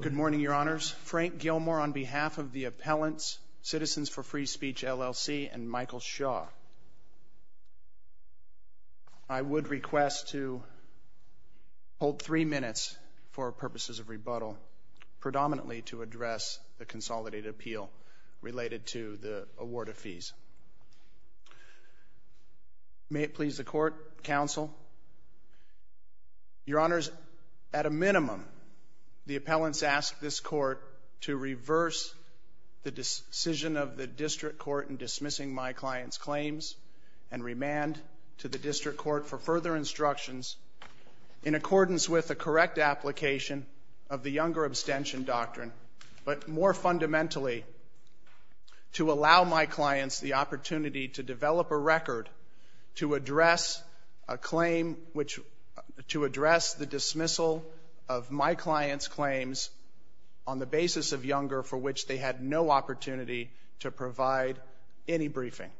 Good morning, Your Honors. Frank Gilmore on behalf of the appellants, Citizens for Free Speech, LLC, and Michael Shaw. I would request to hold three minutes for purposes of rebuttal, predominantly to address the consolidated appeal related to the award of fees. May it please the Court, Counsel? Your Honors, at a minimum, the appellants ask this Court to reverse the decision of the District Court in dismissing my client's claims and remand to the District Court for further instructions in accordance with the correct application of the Younger Abstention Doctrine, but more fundamentally, to allow my clients the opportunity to develop a record to address the dismissal of my client's claims on the basis of Younger, for which they had no opportunity to provide any briefing.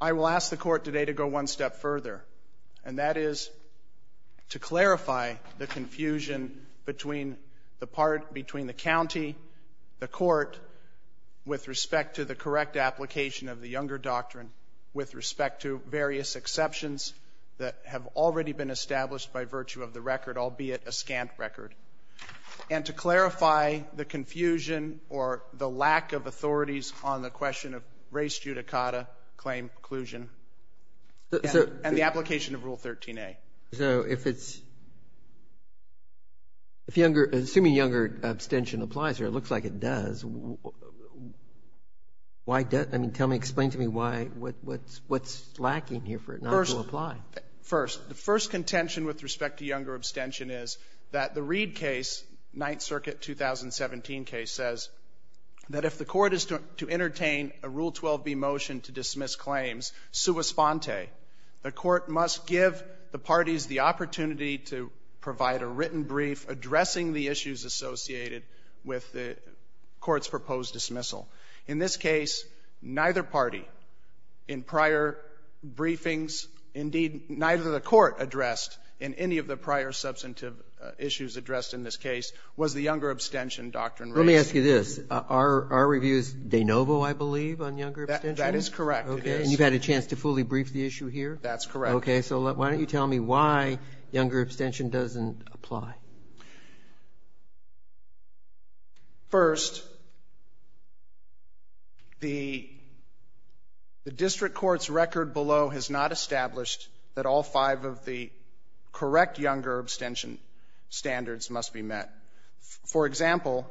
I will ask the Court today to go one step further, and that is to clarify the confusion between the part, between the county, the court, with respect to the correct application of the Younger Doctrine, with respect to various exceptions that have already been established by virtue of the record, albeit a scant record, and to clarify the confusion or the lack of authorities on the question of race, judicata, claim, inclusion, and the application of Rule 13a. So if it's, if Younger, assuming Younger Abstention applies here, it looks like it does, why does, I mean, tell me, explain to me why, what's lacking here for it not to apply? First, the first contention with respect to Younger Abstention is that the Reed case, Ninth Circuit 2017 case, says that if the court is to entertain a Rule 12b motion to dismiss claims, sua sponte, the court must give the parties the opportunity to provide a written brief addressing the issues associated with the court's proposed dismissal. In this case, neither party in prior briefings, indeed, neither the court addressed in any of the prior substantive issues addressed in this case, was the Younger Abstention doctrine raised. Let me ask you this. Are our reviews de novo, I believe, on Younger Abstention? That is correct, it is. Okay. And you've had a chance to fully brief the issue here? That's correct. So why don't you tell me why Younger Abstention doesn't apply? First, the district court's record below has not established that all five of the correct Younger Abstention standards must be met. For example,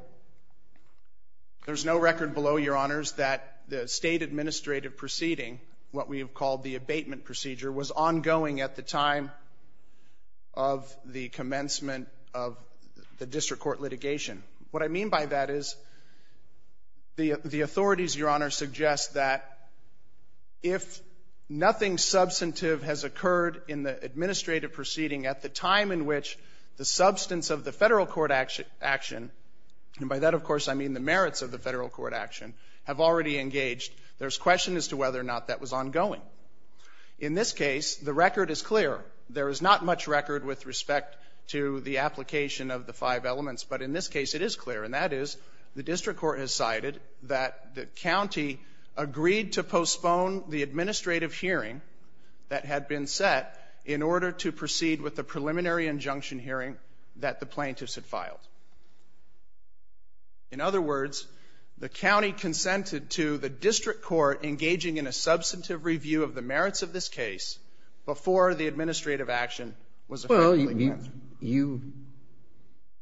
there's no record below, Your Honors, that the state administrative proceeding, what we have called the abatement procedure, was ongoing at the time of the commencement of the district court litigation. What I mean by that is the authorities, Your Honors, suggest that if nothing substantive has occurred in the administrative proceeding at the time in which the substance of the Federal court action, and by that, of course, I mean the merits of the Federal court action, have already engaged, there's question as to whether or not that was ongoing. In this case, the record is clear. There is not much record with respect to the application of the five elements. But in this case, it is clear, and that is the district court has cited that the county agreed to postpone the administrative hearing that had been set in order to proceed with the preliminary injunction hearing that the plaintiffs had filed. In other words, the county consented to the district court engaging in a substantive review of the merits of this case before the administrative action was effectively answered. Well, you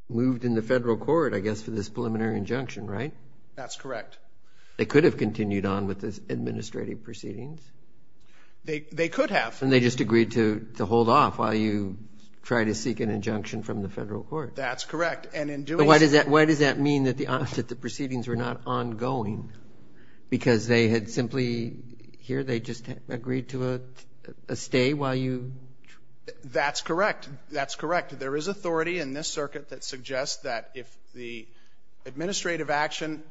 moved in the Federal court, I guess, for this preliminary injunction, right? That's correct. They could have continued on with the administrative proceedings. They could have. And they just agreed to hold off while you try to seek an injunction from the Federal court. That's correct. And in doing so Why does that mean that the proceedings were not ongoing? Because they had simply, here they just agreed to a stay while you That's correct. That's correct. There is authority in this circuit that suggests that if the administrative action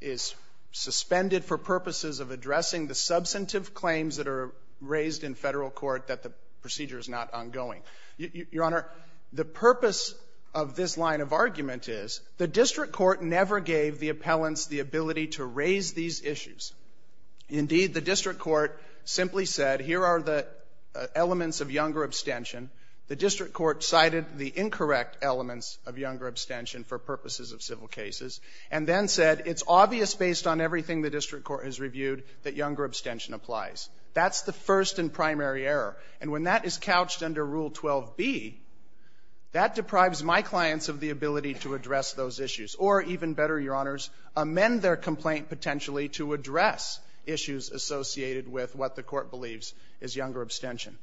is suspended for purposes of addressing the substantive claims that are raised in Federal court that the procedure is not ongoing. Your Honor, the purpose of this line of argument is the district court never gave the appellants the ability to raise these issues. Indeed, the district court simply said, here are the elements of younger abstention. The district court cited the incorrect elements of younger abstention for purposes of civil cases, and then said it's obvious based on everything the district court has reviewed that younger abstention applies. That's the first and primary error. And when that is couched under Rule 12b, that deprives my clients of the ability to address those issues, or, even better, Your Honors, amend their complaint potentially to address issues associated with what the Court believes is younger abstention.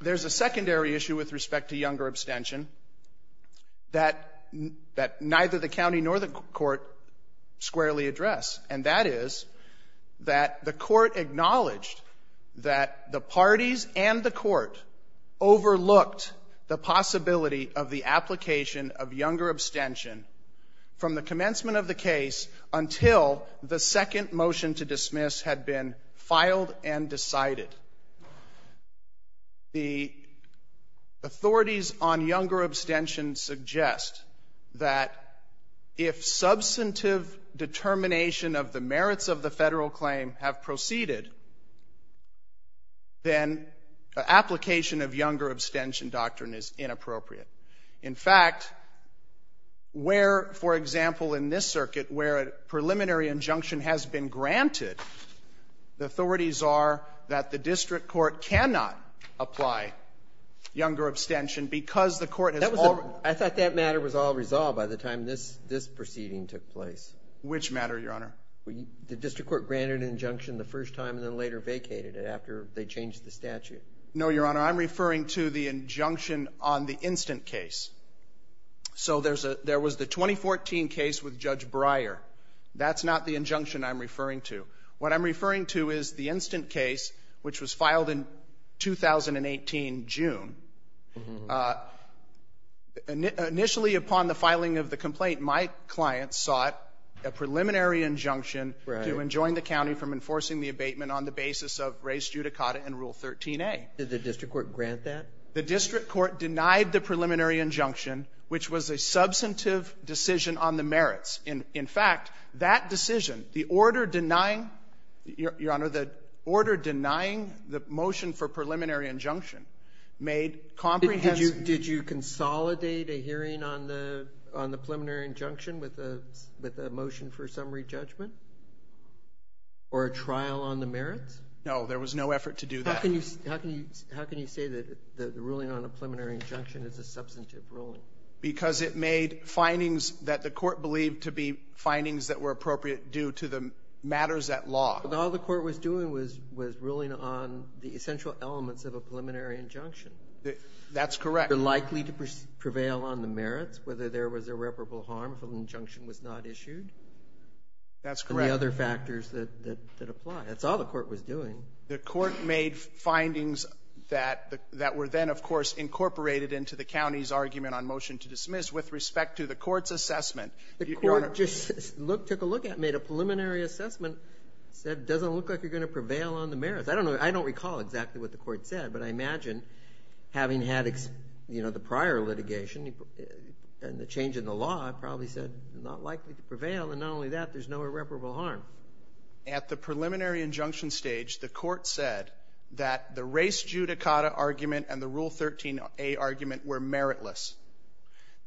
There's a secondary issue with respect to younger abstention that neither the county nor the Court squarely address, and that is that the Court acknowledged that the public parties and the Court overlooked the possibility of the application of younger abstention from the commencement of the case until the second motion to dismiss had been filed and decided. The authorities on younger abstention suggest that if substantive determination of the merits of the Federal claim have proceeded, then application of younger abstention doctrine is inappropriate. In fact, where, for example, in this circuit, where a preliminary injunction has been granted, the authorities are that the district court cannot apply younger abstention because the Court has already ---- I thought that matter was all resolved by the time this proceeding took place. Which matter, Your Honor? The district court granted an injunction the first time and then later vacated it after they changed the statute. No, Your Honor. I'm referring to the injunction on the instant case. So there was the 2014 case with Judge Breyer. That's not the injunction I'm referring to. What I'm referring to is the instant case, which was filed in 2018, June. Initially, upon the filing of the complaint, my client sought a preliminary injunction to enjoin the county from enforcing the abatement on the basis of res judicata in Rule 13a. Did the district court grant that? The district court denied the preliminary injunction, which was a substantive decision on the merits. In fact, that decision, the order denying, Your Honor, the order Did you consolidate a hearing on the preliminary injunction with a motion for summary judgment or a trial on the merits? No. There was no effort to do that. How can you say that the ruling on a preliminary injunction is a substantive ruling? Because it made findings that the Court believed to be findings that were appropriate due to the matters at law. All the Court was doing was ruling on the essential elements of a preliminary injunction. That's correct. They're likely to prevail on the merits, whether there was irreparable harm if an injunction was not issued. That's correct. And the other factors that apply. That's all the Court was doing. The Court made findings that were then, of course, incorporated into the county's argument on motion to dismiss with respect to the Court's assessment. The Court just took a look at it, made a preliminary assessment, said it doesn't look like you're going to prevail on the merits. I don't know. I don't recall exactly what the Court said, but I imagine having had, you know, the prior litigation and the change in the law, it probably said you're not likely to prevail. And not only that, there's no irreparable harm. At the preliminary injunction stage, the Court said that the race judicata argument and the Rule 13a argument were meritless.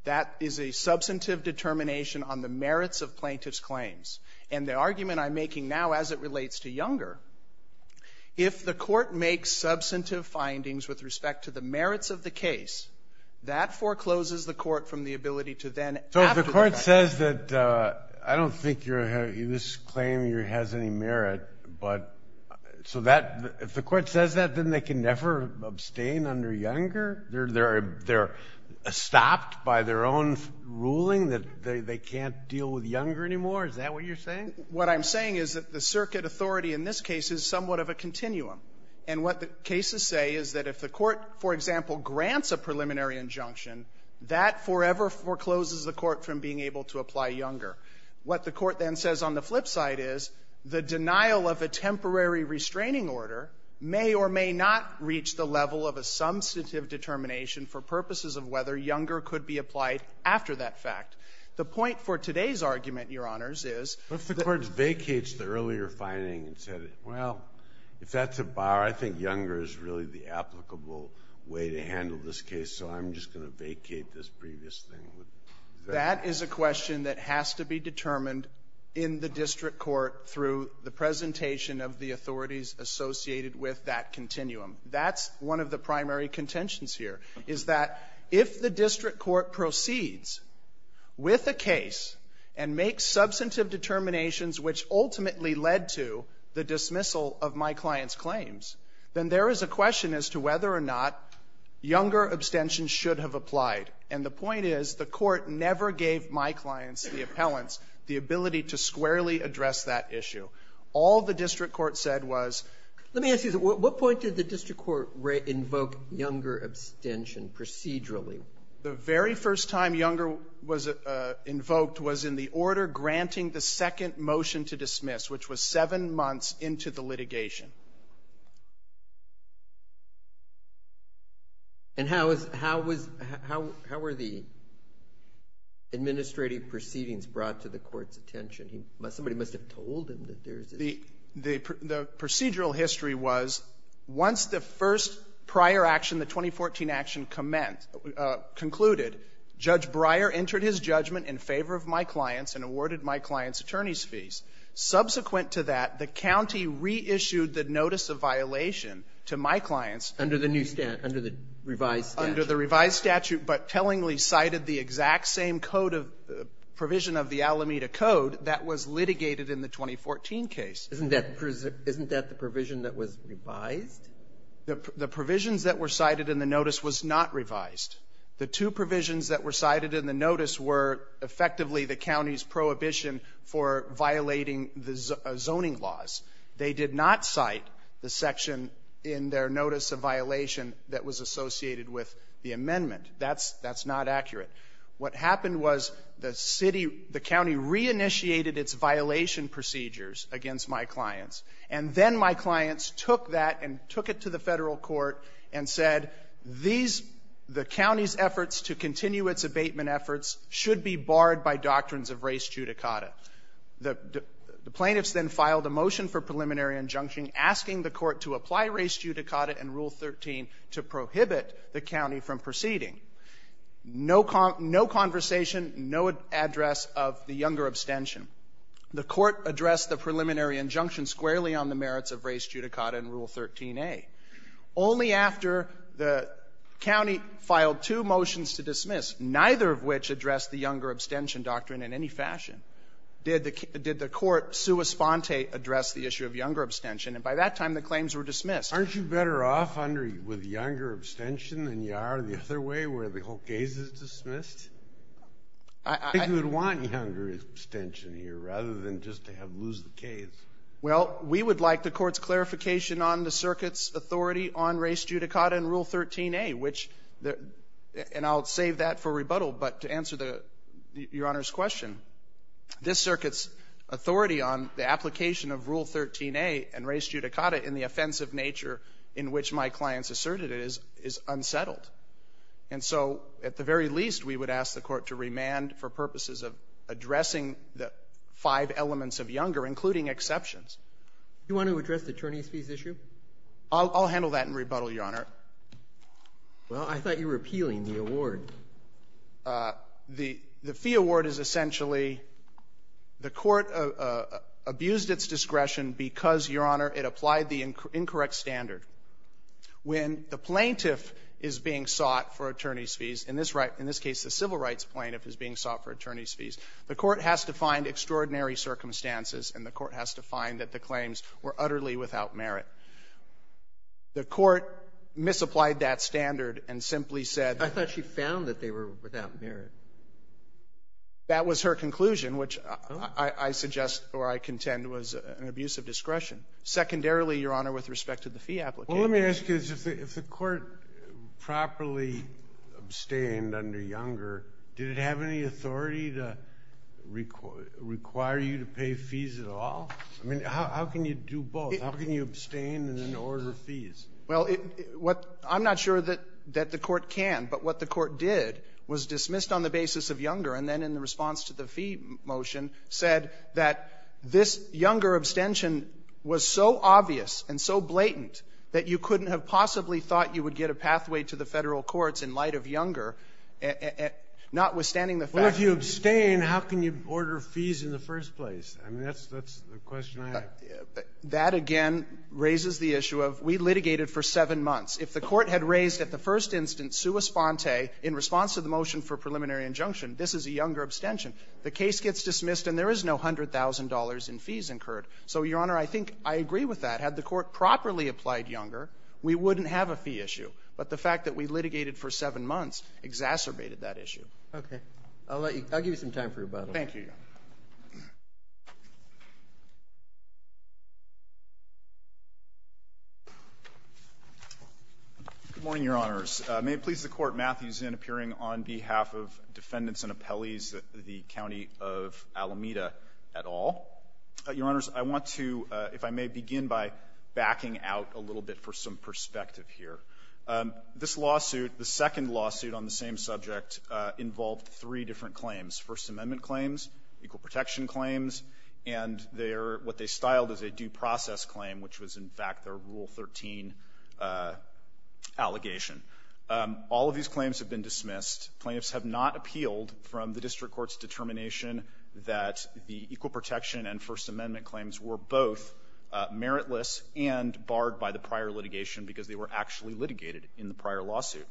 That is a substantive determination on the merits of plaintiff's claims. And the argument I'm making now, as it relates to Younger, if the Court makes substantive findings with respect to the merits of the case, that forecloses the Court from the ability to then add to the case. So if the Court says that, I don't think this claim has any merit, but so that the Court says that, then they can never abstain under Younger? They're stopped by their own ruling that they can't deal with Younger anymore? Is that what you're saying? What I'm saying is that the circuit authority in this case is somewhat of a continuum. And what the cases say is that if the Court, for example, grants a preliminary injunction, that forever forecloses the Court from being able to apply Younger. What the Court then says on the flip side is the denial of a temporary restraining order may or may not reach the level of a substantive determination for purposes of whether Younger could be applied after that fact. The point for today's argument, Your Honors, is that the Court vacates the earlier finding and said, well, if that's a bar, I think Younger is really the applicable way to handle this case, so I'm just going to vacate this previous thing. That is a question that has to be determined in the district court through the presentation of the authorities associated with that continuum. That's one of the primary contentions here. Is that if the district court proceeds with a case and makes substantive determinations, which ultimately led to the dismissal of my client's claims, then there is a question as to whether or not Younger abstention should have applied. And the point is, the Court never gave my clients, the appellants, the ability to squarely address that issue. All the district court said was — The very first time Younger was invoked was in the order granting the second motion to dismiss, which was seven months into the litigation. And how was — how was — how were the administrative proceedings brought to the Court's attention? Somebody must have told him that there's a — The procedural history was, once the first prior action, the 2014 action, commenced — concluded, Judge Breyer entered his judgment in favor of my clients and awarded my clients' attorneys' fees. Subsequent to that, the county reissued the notice of violation to my clients. Under the new — under the revised statute. Under the revised statute, but tellingly cited the exact same code of — provision of the Alameda Code that was litigated in the 2014 case. Isn't that — isn't that the provision that was revised? The provisions that were cited in the notice was not revised. The two provisions that were cited in the notice were, effectively, the county's prohibition for violating the zoning laws. They did not cite the section in their notice of violation that was associated with the amendment. That's — that's not accurate. What happened was the city — the county reinitiated its violation procedures against my clients. And then my clients took that and took it to the Federal Court and said, these — the county's efforts to continue its abatement efforts should be barred by doctrines of res judicata. The — the plaintiffs then filed a motion for preliminary injunction asking the Court to apply res judicata and Rule 13 to prohibit the county from proceeding. No — no conversation, no address of the younger abstention. The Court addressed the preliminary injunction squarely on the merits of res judicata and Rule 13a. Only after the county filed two motions to dismiss, neither of which addressed the younger abstention doctrine in any fashion, did the — did the Court sua sponte address the issue of younger abstention. And by that time, the claims were dismissed. Aren't you better off under — with younger abstention than you are the other way, where the whole case is dismissed? I think you would want younger abstention here, rather than just to have — lose the case. Well, we would like the Court's clarification on the circuit's authority on res judicata and Rule 13a, which — and I'll save that for rebuttal, but to answer the — Your Honor's question. This circuit's authority on the application of Rule 13a and res judicata in the offensive nature in which my clients asserted it is — is unsettled. And so at the very least, we would ask the Court to remand for purposes of addressing the five elements of younger, including exceptions. Do you want to address the attorneys' fees issue? I'll — I'll handle that in rebuttal, Your Honor. Well, I thought you were appealing the award. The — the fee award is essentially — the Court abused its discretion because, Your Honor, it applied the incorrect standard. When the plaintiff is being sought for attorneys' fees, in this — in this case, the civil rights plaintiff is being sought for attorneys' fees, the Court has to find extraordinary circumstances, and the Court has to find that the claims were utterly without merit. The Court misapplied that standard and simply said that — I thought she found that they were without merit. That was her conclusion, which I — I suggest or I contend was an abuse of discretion. Secondarily, Your Honor, with respect to the fee application — Well, let me ask you this. If the — if the Court properly abstained under younger, did it have any authority to require you to pay fees at all? I mean, how can you do both? How can you abstain and then order fees? Well, it — what — I'm not sure that — that the Court can, but what the Court did was dismissed on the basis of younger and then in the response to the fee motion said that this younger abstention was so obvious and so blatant that you couldn't have possibly thought you would get a pathway to the Federal courts in light of younger, notwithstanding the fact that — Well, if you abstain, how can you order fees in the first place? I mean, that's — that's the question I have. That, again, raises the issue of we litigated for seven months. If the Court had raised at the first instance sua sponte in response to the motion for preliminary injunction, this is a younger abstention. The case gets dismissed and there is no $100,000 in fees incurred. So, Your Honor, I think I agree with that. Had the Court properly applied younger, we wouldn't have a fee issue. But the fact that we litigated for seven months exacerbated that issue. Okay. I'll let you — I'll give you some time for rebuttal. Thank you, Your Honor. Good morning, Your Honors. May it please the Court, Matthew Zinn appearing on behalf of defendants and appellees of the County of Alameda et al. Your Honors, I want to, if I may, begin by backing out a little bit for some perspective here. This lawsuit, the second lawsuit on the same subject, involved three different claims, First Amendment claims, equal protection claims, and their — what they All of these claims have been dismissed. Plaintiffs have not appealed from the district court's determination that the equal protection and First Amendment claims were both meritless and barred by the prior litigation because they were actually litigated in the prior lawsuit.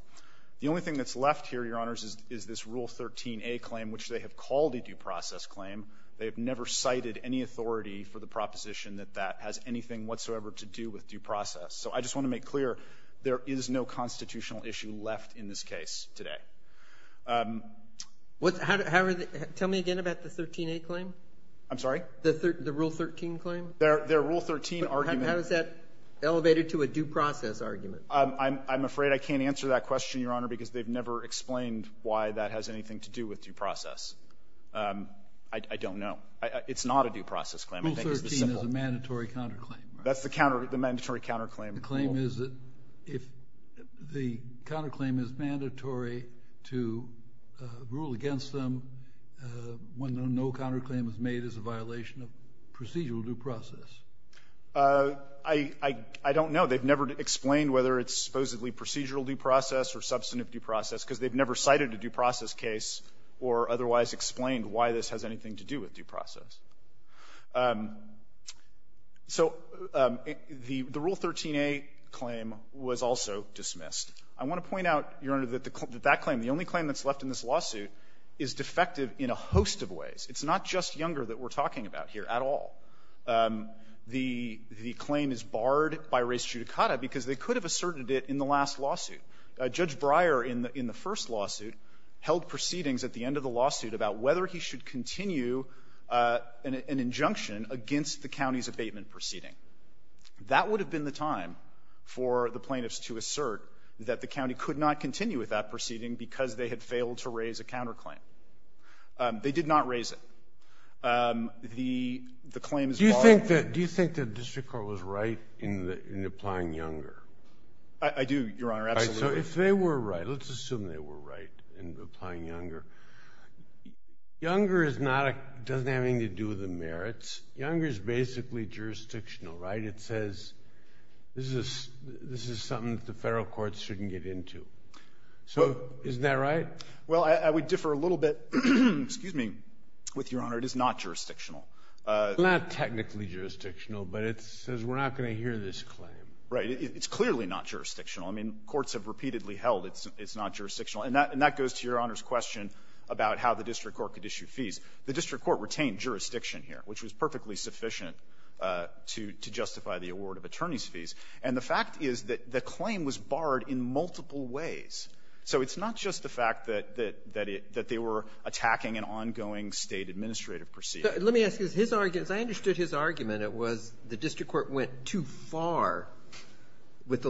The only thing that's left here, Your Honors, is this Rule 13a claim, which they have called a due process claim. They have never cited any authority for the proposition that that has anything whatsoever to do with due process. So I just want to make clear, there is no constitutional issue left in this case today. Tell me again about the 13a claim? I'm sorry? The Rule 13 claim? Their Rule 13 argument — How is that elevated to a due process argument? I'm afraid I can't answer that question, Your Honor, because they've never explained why that has anything to do with due process. I don't know. It's not a due process claim. Rule 13 is a mandatory counterclaim, right? That's the mandatory counterclaim. The claim is that if the counterclaim is mandatory to rule against them when no counterclaim was made as a violation of procedural due process. I don't know. They've never explained whether it's supposedly procedural due process or substantive due process because they've never cited a due process case or otherwise explained why this has anything to do with due process. So the Rule 13a claim was also dismissed. I want to point out, Your Honor, that that claim, the only claim that's left in this lawsuit, is defective in a host of ways. It's not just Younger that we're talking about here at all. The claim is barred by res judicata because they could have asserted it in the last lawsuit. Judge Breyer in the first lawsuit held proceedings at the end of the lawsuit about whether he should continue an injunction against the county's abatement proceeding. That would have been the time for the plaintiffs to assert that the county could not continue with that proceeding because they had failed to raise a counterclaim. They did not raise it. The claim is barred. Do you think that the district court was right in applying Younger? I do, Your Honor. Absolutely. So if they were right, let's assume they were right in applying Younger. Younger doesn't have anything to do with the merits. Younger is basically jurisdictional, right? It says this is something that the federal courts shouldn't get into. So isn't that right? Well, I would differ a little bit with Your Honor. It is not jurisdictional. Not technically jurisdictional, but it says we're not going to hear this claim. Right. It's clearly not jurisdictional. I mean, courts have repeatedly held it's not jurisdictional. And that goes to Your Honor's question about how the district court could issue fees. The district court retained jurisdiction here, which was perfectly sufficient to justify the award of attorney's fees. And the fact is that the claim was barred in multiple ways. So it's not just the fact that they were attacking an ongoing State administrative proceeding. Let me ask you this. His argument, as I understood his argument, it was the district court went too far with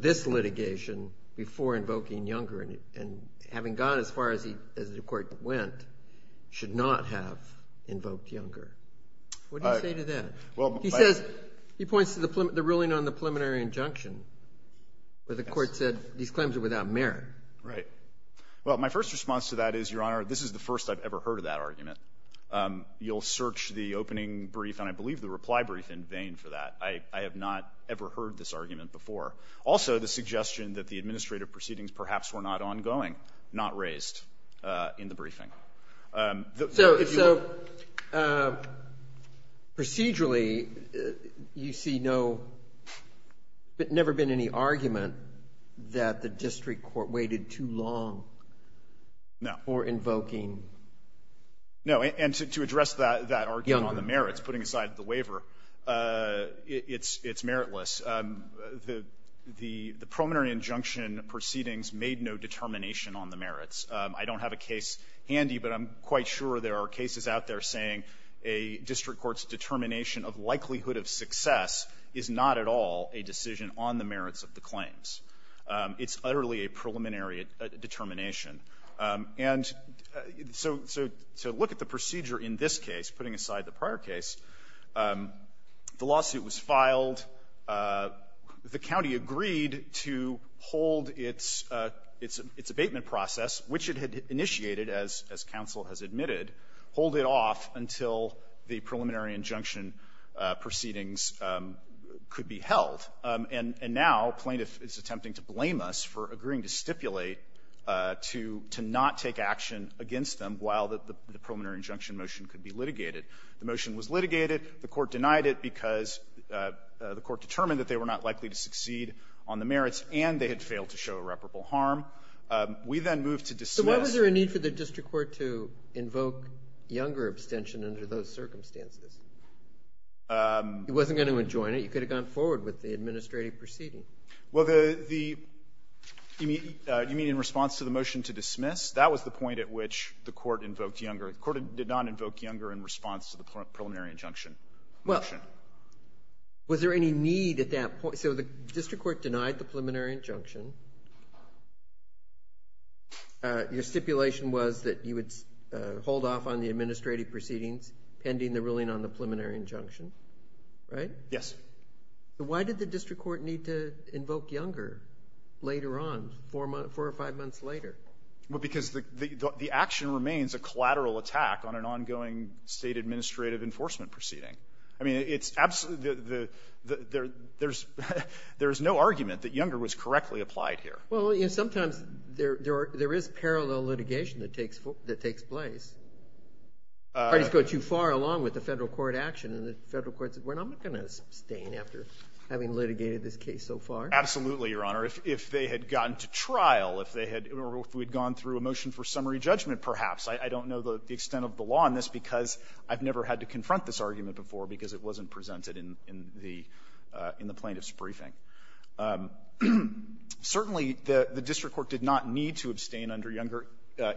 this litigation before invoking Younger. And having gone as far as the court went should not have invoked Younger. What do you say to that? He says he points to the ruling on the preliminary injunction where the court said these claims are without merit. Well, my first response to that is, Your Honor, this is the first I've ever heard of that argument. You'll search the opening brief, and I believe the reply brief, in vain for that. I have not ever heard this argument before. Also, the suggestion that the administrative proceedings perhaps were not ongoing, not raised in the briefing. So procedurally, you see no, but never been any argument that the district court waited too long for invoking Younger. No. And to address that argument on the merits, putting aside the waiver, it's meritless. The preliminary injunction proceedings made no determination on the merits. I don't have a case handy, but I'm quite sure there are cases out there saying a district court's determination of likelihood of success is not at all a decision on the merits of the claims. It's utterly a preliminary determination. And so to look at the procedure in this case, putting aside the prior case, the lawsuit was filed. The county agreed to hold its abatement process, which it had initiated, as counsel has admitted, hold it off until the preliminary injunction proceedings could be held. And now plaintiff is attempting to blame us for agreeing to stipulate to not take action against them while the preliminary injunction motion could be litigated. The motion was litigated. The Court denied it because the Court determined that they were not likely to succeed on the merits, and they had failed to show irreparable harm. We then moved to dismiss. So why was there a need for the district court to invoke Younger abstention under those circumstances? It wasn't going to enjoin it. You could have gone forward with the administrative proceeding. Well, the immediate response to the motion to dismiss, that was the point at which the Court invoked Younger. The Court did not invoke Younger in response to the preliminary injunction motion. Well, was there any need at that point? So the district court denied the preliminary injunction. Your stipulation was that you would hold off on the administrative proceedings pending the ruling on the preliminary injunction, right? Yes. Why did the district court need to invoke Younger later on, 4 or 5 months later? Well, because the action remains a collateral attack on an ongoing State administrative enforcement proceeding. I mean, it's absolutely the — there's no argument that Younger was correctly applied here. Well, you know, sometimes there is parallel litigation that takes place. Parties go too far along with the Federal court action, and the Federal court said, well, I'm not going to abstain after having litigated this case so far. Absolutely, Your Honor. If they had gotten to trial, if they had — or if we had gone through a motion for summary judgment, perhaps. I don't know the extent of the law on this because I've never had to confront this argument before because it wasn't presented in the plaintiff's briefing. Certainly, the district court did not need to abstain under Younger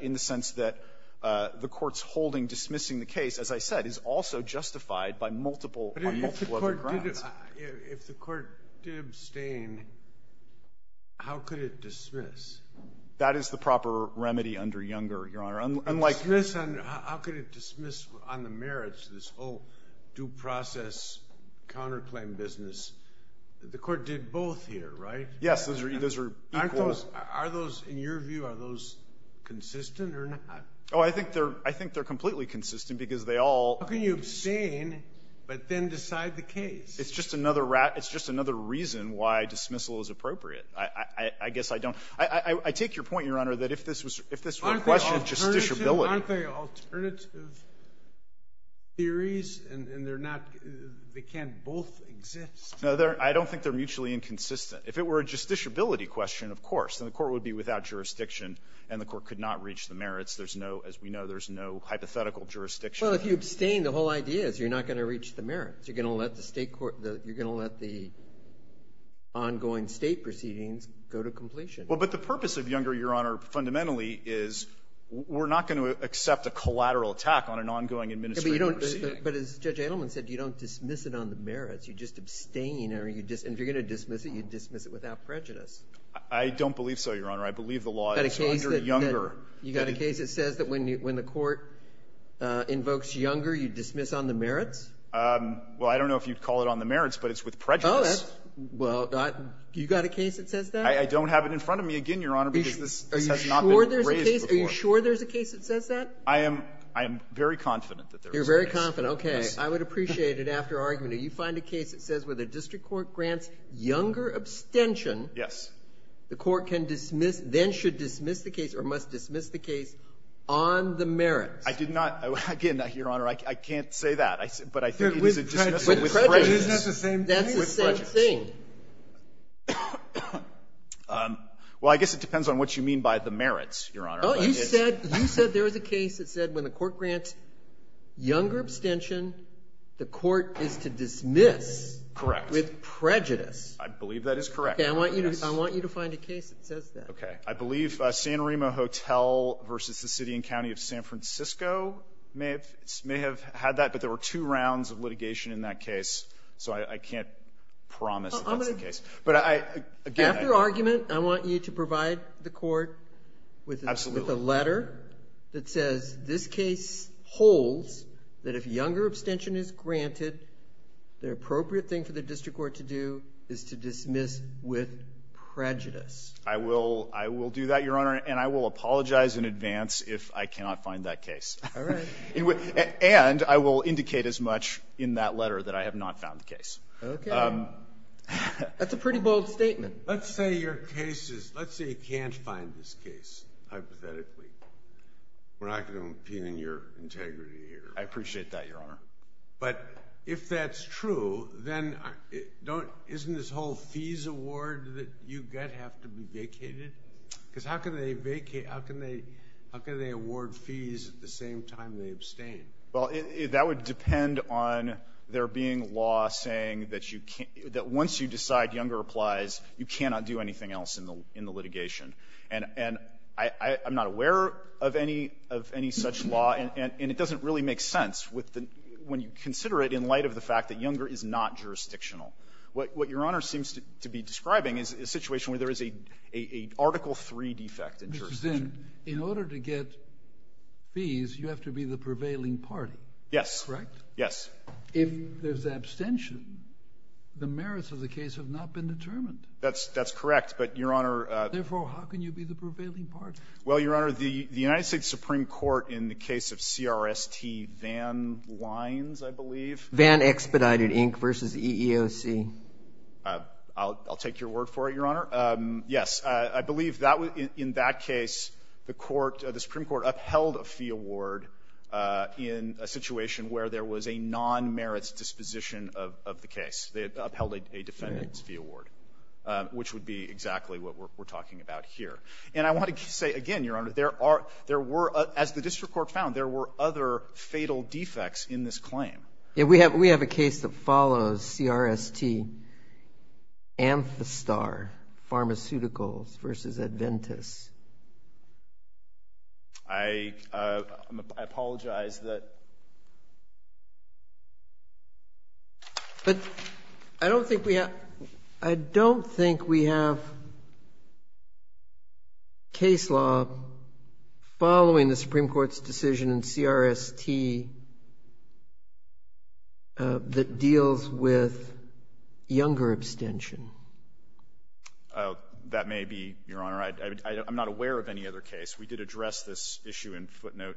in the sense that the court's holding dismissing the case, as I said, is also justified by multiple arguments. If the court did — if the court did abstain, how could it dismiss? That is the proper remedy under Younger, Your Honor. Unlike — Dismiss on — how could it dismiss on the merits of this whole due process counterclaim business? The court did both here, right? Yes. Those are — those are equals — Aren't those — are those, in your view, are those consistent or not? Oh, I think they're — I think they're completely consistent because they all — How can you abstain but then decide the case? It's just another — it's just another reason why dismissal is appropriate. I guess I don't — I take your point, Your Honor, that if this was — if this were a question of justiciability — Aren't they alternative theories? And they're not — they can't both exist. No, they're — I don't think they're mutually inconsistent. If it were a justiciability question, of course, then the court would be without jurisdiction and the court could not reach the merits. There's no — as we know, there's no hypothetical jurisdiction. Well, if you abstain, the whole idea is you're not going to reach the merits. You're going to let the state court — you're going to let the ongoing state proceedings go to completion. Well, but the purpose of Younger, Your Honor, fundamentally is we're not going to accept a collateral attack on an ongoing administrative proceeding. But as Judge Edelman said, you don't dismiss it on the merits. You just abstain or you — and if you're going to dismiss it, you dismiss it without prejudice. I don't believe so, Your Honor. I believe the law is under Younger. You got a case that says that when the court invokes Younger, you dismiss on the merits? Well, I don't know if you'd call it on the merits, but it's with prejudice. Oh, that's — well, you got a case that says that? I don't have it in front of me again, Your Honor, because this has not been raised before. Are you sure there's a case that says that? I am — I am very confident that there is a case. You're very confident. Okay. I would appreciate it after argument. Do you find a case that says where the district court grants Younger abstention — Yes. — the court can dismiss — then should dismiss the case or must dismiss the case on the merits? I did not — again, Your Honor, I can't say that. But I think it is a dismissal with prejudice. With prejudice. Isn't that the same thing? That's the same thing. Well, I guess it depends on what you mean by the merits, Your Honor. Oh, you said — you said there was a case that said when the court grants Younger abstention, the court is to dismiss — Correct. — with prejudice. I believe that is correct. I want you to — I want you to find a case that says that. Okay. I believe San Remo Hotel versus the City and County of San Francisco may have — may have had that, but there were two rounds of litigation in that case. So I can't promise that that's the case. But I — again — After argument, I want you to provide the court with — Absolutely. — with a letter that says this case holds that if Younger abstention is granted, the appropriate thing for the district court to do is to dismiss with prejudice. I will — I will do that, Your Honor. And I will apologize in advance if I cannot find that case. All right. And I will indicate as much in that letter that I have not found the case. Okay. That's a pretty bold statement. Let's say your case is — let's say you can't find this case, hypothetically. We're not going to impugn your integrity here. I appreciate that, Your Honor. But if that's true, then don't — isn't this whole fees award that you get have to be vacated? Because how can they vacate — how can they — how can they award fees at the same time they abstain? Well, that would depend on there being law saying that you can't — that once you decide Younger applies, you cannot do anything else in the litigation. And I'm not aware of any — of any such law, and it doesn't really make sense with the — when you consider it in light of the fact that Younger is not jurisdictional. What Your Honor seems to be describing is a situation where there is a Article III defect in jurisdiction. In order to get fees, you have to be the prevailing party. Yes. Correct? Yes. If there's abstention, the merits of the case have not been determined. That's correct. But, Your Honor — Therefore, how can you be the prevailing party? Well, Your Honor, the United States Supreme Court in the case of CRST Van Lines, I believe — Van Expedited, Inc., versus EEOC. I'll take your word for it, Your Honor. Yes. I believe that — in that case, the Supreme Court upheld a fee award in a situation where there was a non-merits disposition of the case. They upheld a defendant's fee award, which would be exactly what we're talking about here. And I want to say, again, Your Honor, there are — there were — as the district court found, there were other fatal defects in this claim. Yeah. We have — we have a case that follows CRST, Amthastar Pharmaceuticals versus Adventis. I — I apologize that — But I don't think we have — I don't think we have case law following the Supreme Court's decision in CRST that deals with younger abstention. That may be, Your Honor. I'm not aware of any other case. We did address this issue in footnote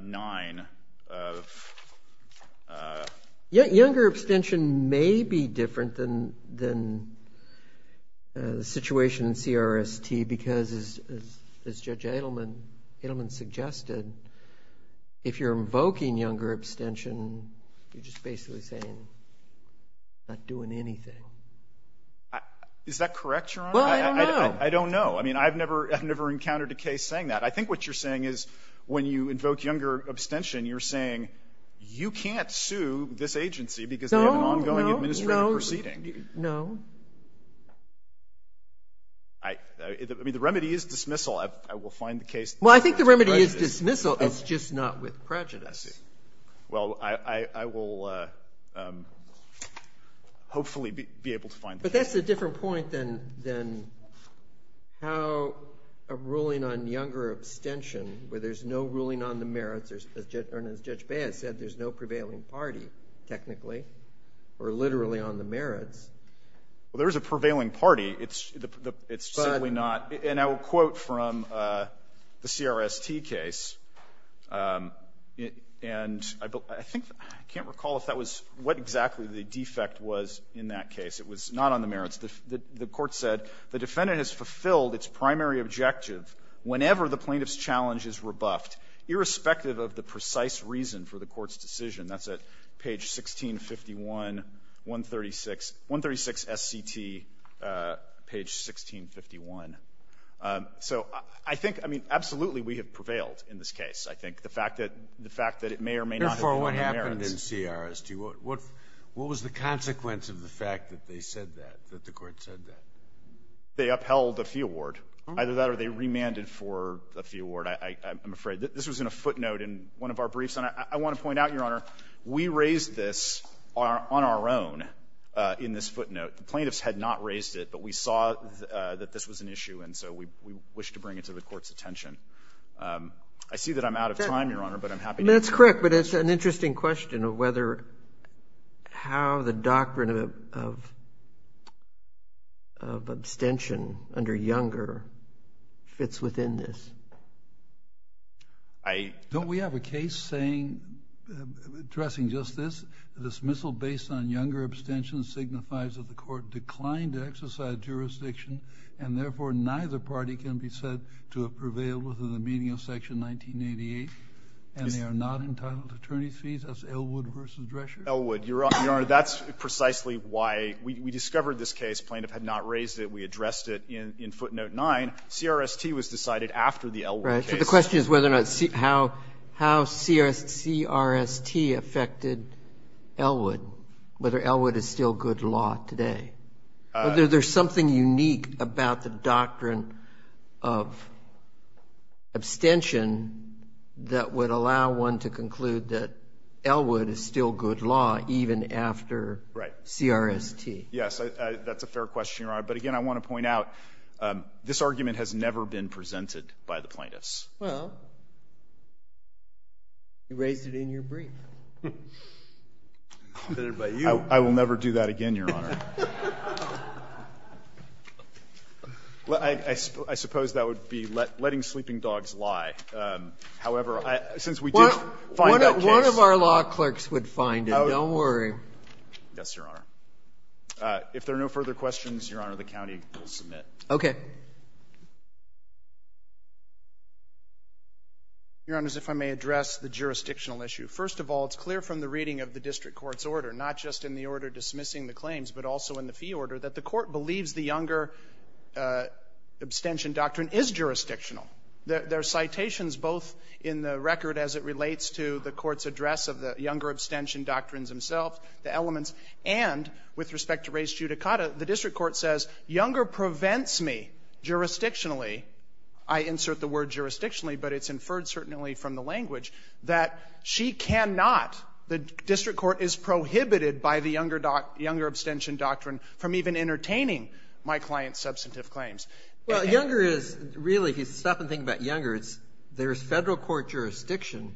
9 of — Yeah. Younger abstention may be different than — than the situation in CRST because, as Judge Edelman — Edelman suggested, if you're invoking younger abstention, you're just basically saying you're not doing anything. Is that correct, Your Honor? Well, I don't know. I don't know. I mean, I've never — I've never encountered a case saying that. I think what you're saying is, when you invoke younger abstention, you're saying you can't sue this agency because they have an ongoing administrative proceeding. No, no, no, no. I — I mean, the remedy is dismissal. I will find the case. Well, I think the remedy is dismissal. It's just not with prejudice. I see. Well, I — I will hopefully be able to find the case. But that's a different point than — than how a ruling on younger abstention, where there's no ruling on the merits — or, as Judge Baez said, there's no prevailing party, technically, or literally, on the merits. Well, there is a prevailing party. It's — it's simply not — and I will quote from the CRST case. And I think — I can't recall if that was — what exactly the defect was in that case. It was not on the merits. The court said, the defendant has fulfilled its primary objective whenever the plaintiff's challenge is rebuffed, irrespective of the precise reason for the court's decision. That's at page 1651, 136 — 136 SCT, page 1651. So I think — I mean, absolutely, we have prevailed in this case, I think. The fact that — the fact that it may or may not have been on the merits. What happened in CRST? What — what was the consequence of the fact that they said that, that the court said that? They upheld a fee award. Either that or they remanded for a fee award, I'm afraid. This was in a footnote in one of our briefs. And I want to point out, Your Honor, we raised this on our own in this footnote. The plaintiffs had not raised it, but we saw that this was an issue, and so we wish to bring it to the court's attention. I see that I'm out of time, Your Honor, but I'm happy to — That's correct. But it's an interesting question of whether — how the doctrine of — of abstention under Younger fits within this. I — Don't we have a case saying — addressing just this? Dismissal based on Younger abstention signifies that the court declined to exercise jurisdiction, and therefore neither party can be said to have prevailed within the 1888, and they are not entitled to attorney's fees as Elwood v. Drescher? Elwood. Your Honor, that's precisely why — we discovered this case. Plaintiff had not raised it. We addressed it in footnote 9. CRST was decided after the Elwood case. Right. So the question is whether or not — how CRST affected Elwood, whether Elwood is still good law today. Whether there's something unique about the doctrine of abstention that would allow one to conclude that Elwood is still good law even after CRST. Yes, that's a fair question, Your Honor. But again, I want to point out, this argument has never been presented by the plaintiffs. Well, you raised it in your brief. I will never do that again, Your Honor. Well, I suppose that would be letting sleeping dogs lie. However, since we did find that case — One of our law clerks would find it. Don't worry. Yes, Your Honor. If there are no further questions, Your Honor, the county will submit. Okay. Your Honors, if I may address the jurisdictional issue. First of all, it's clear from the reading of the district court's order, not just in the order dismissing the claims, but also in the fee order, that the Court believes the Younger abstention doctrine is jurisdictional. There are citations both in the record as it relates to the Court's address of the Younger abstention doctrines themselves, the elements, and with respect to res judicata, the district court says Younger prevents me jurisdictionally — I insert the word jurisdictionally, but it's inferred certainly from the language — that she cannot — the Younger abstention doctrine from even entertaining my client's substantive claims. Well, Younger is — really, if you stop and think about Younger, it's — there's Federal court jurisdiction.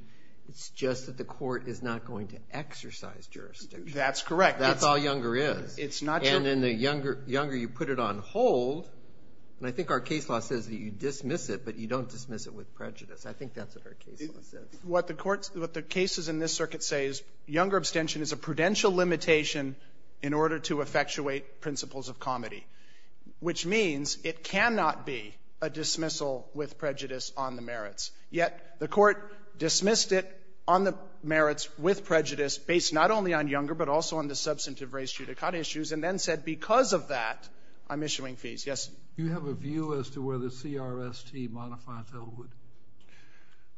It's just that the Court is not going to exercise jurisdiction. That's correct. That's all Younger is. It's not your — And in the Younger, you put it on hold, and I think our case law says that you dismiss it, but you don't dismiss it with prejudice. I think that's what our case law says. What the courts — what the cases in this circuit say is Younger abstention is a prudential limitation in order to effectuate principles of comedy, which means it cannot be a dismissal with prejudice on the merits. Yet the Court dismissed it on the merits with prejudice based not only on Younger, but also on the substantive res judicata issues, and then said because of that, I'm issuing fees. Yes. Do you have a view as to whether CRST modifies Ellwood?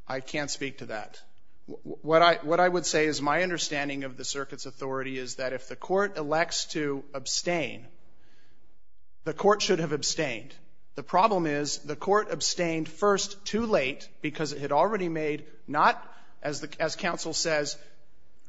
I can't speak to that. What I — what I would say is my understanding of the circuit's authority is that if the Court elects to abstain, the Court should have abstained. The problem is the Court abstained first too late because it had already made not, as the — as counsel says,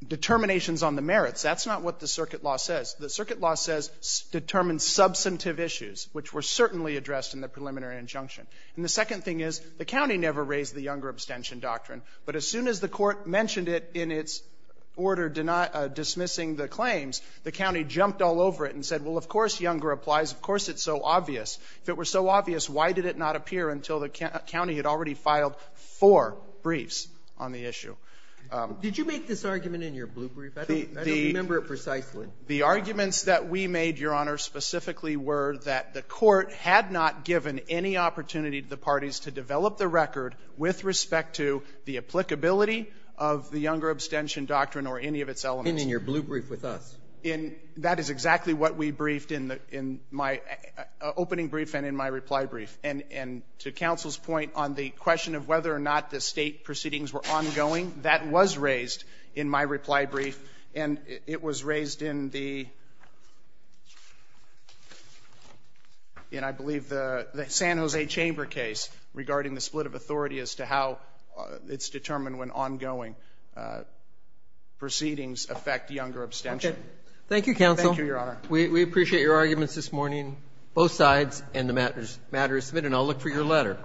determinations on the merits. That's not what the circuit law says. The circuit law says determine substantive issues, which were certainly addressed in the preliminary injunction. And the second thing is, the county never raised the Younger abstention doctrine. But as soon as the Court mentioned it in its order dismissing the claims, the county jumped all over it and said, well, of course Younger applies. Of course it's so obvious. If it were so obvious, why did it not appear until the county had already filed four briefs on the issue? Did you make this argument in your blue brief? I don't remember it precisely. The arguments that we made, Your Honor, specifically were that the Court had not given any opportunity to the parties to develop the record with respect to the applicability of the Younger abstention doctrine or any of its elements. And in your blue brief with us. And that is exactly what we briefed in my opening brief and in my reply brief. And to counsel's point on the question of whether or not the State proceedings were ongoing, that was raised in my reply brief. And it was raised in the, I believe, the San Jose Chamber case regarding the split of authority as to how it's determined when ongoing proceedings affect Younger abstention. Okay. Thank you, counsel. Thank you, Your Honor. We appreciate your arguments this morning, both sides, and the matter is submitted. And I'll look for your letter.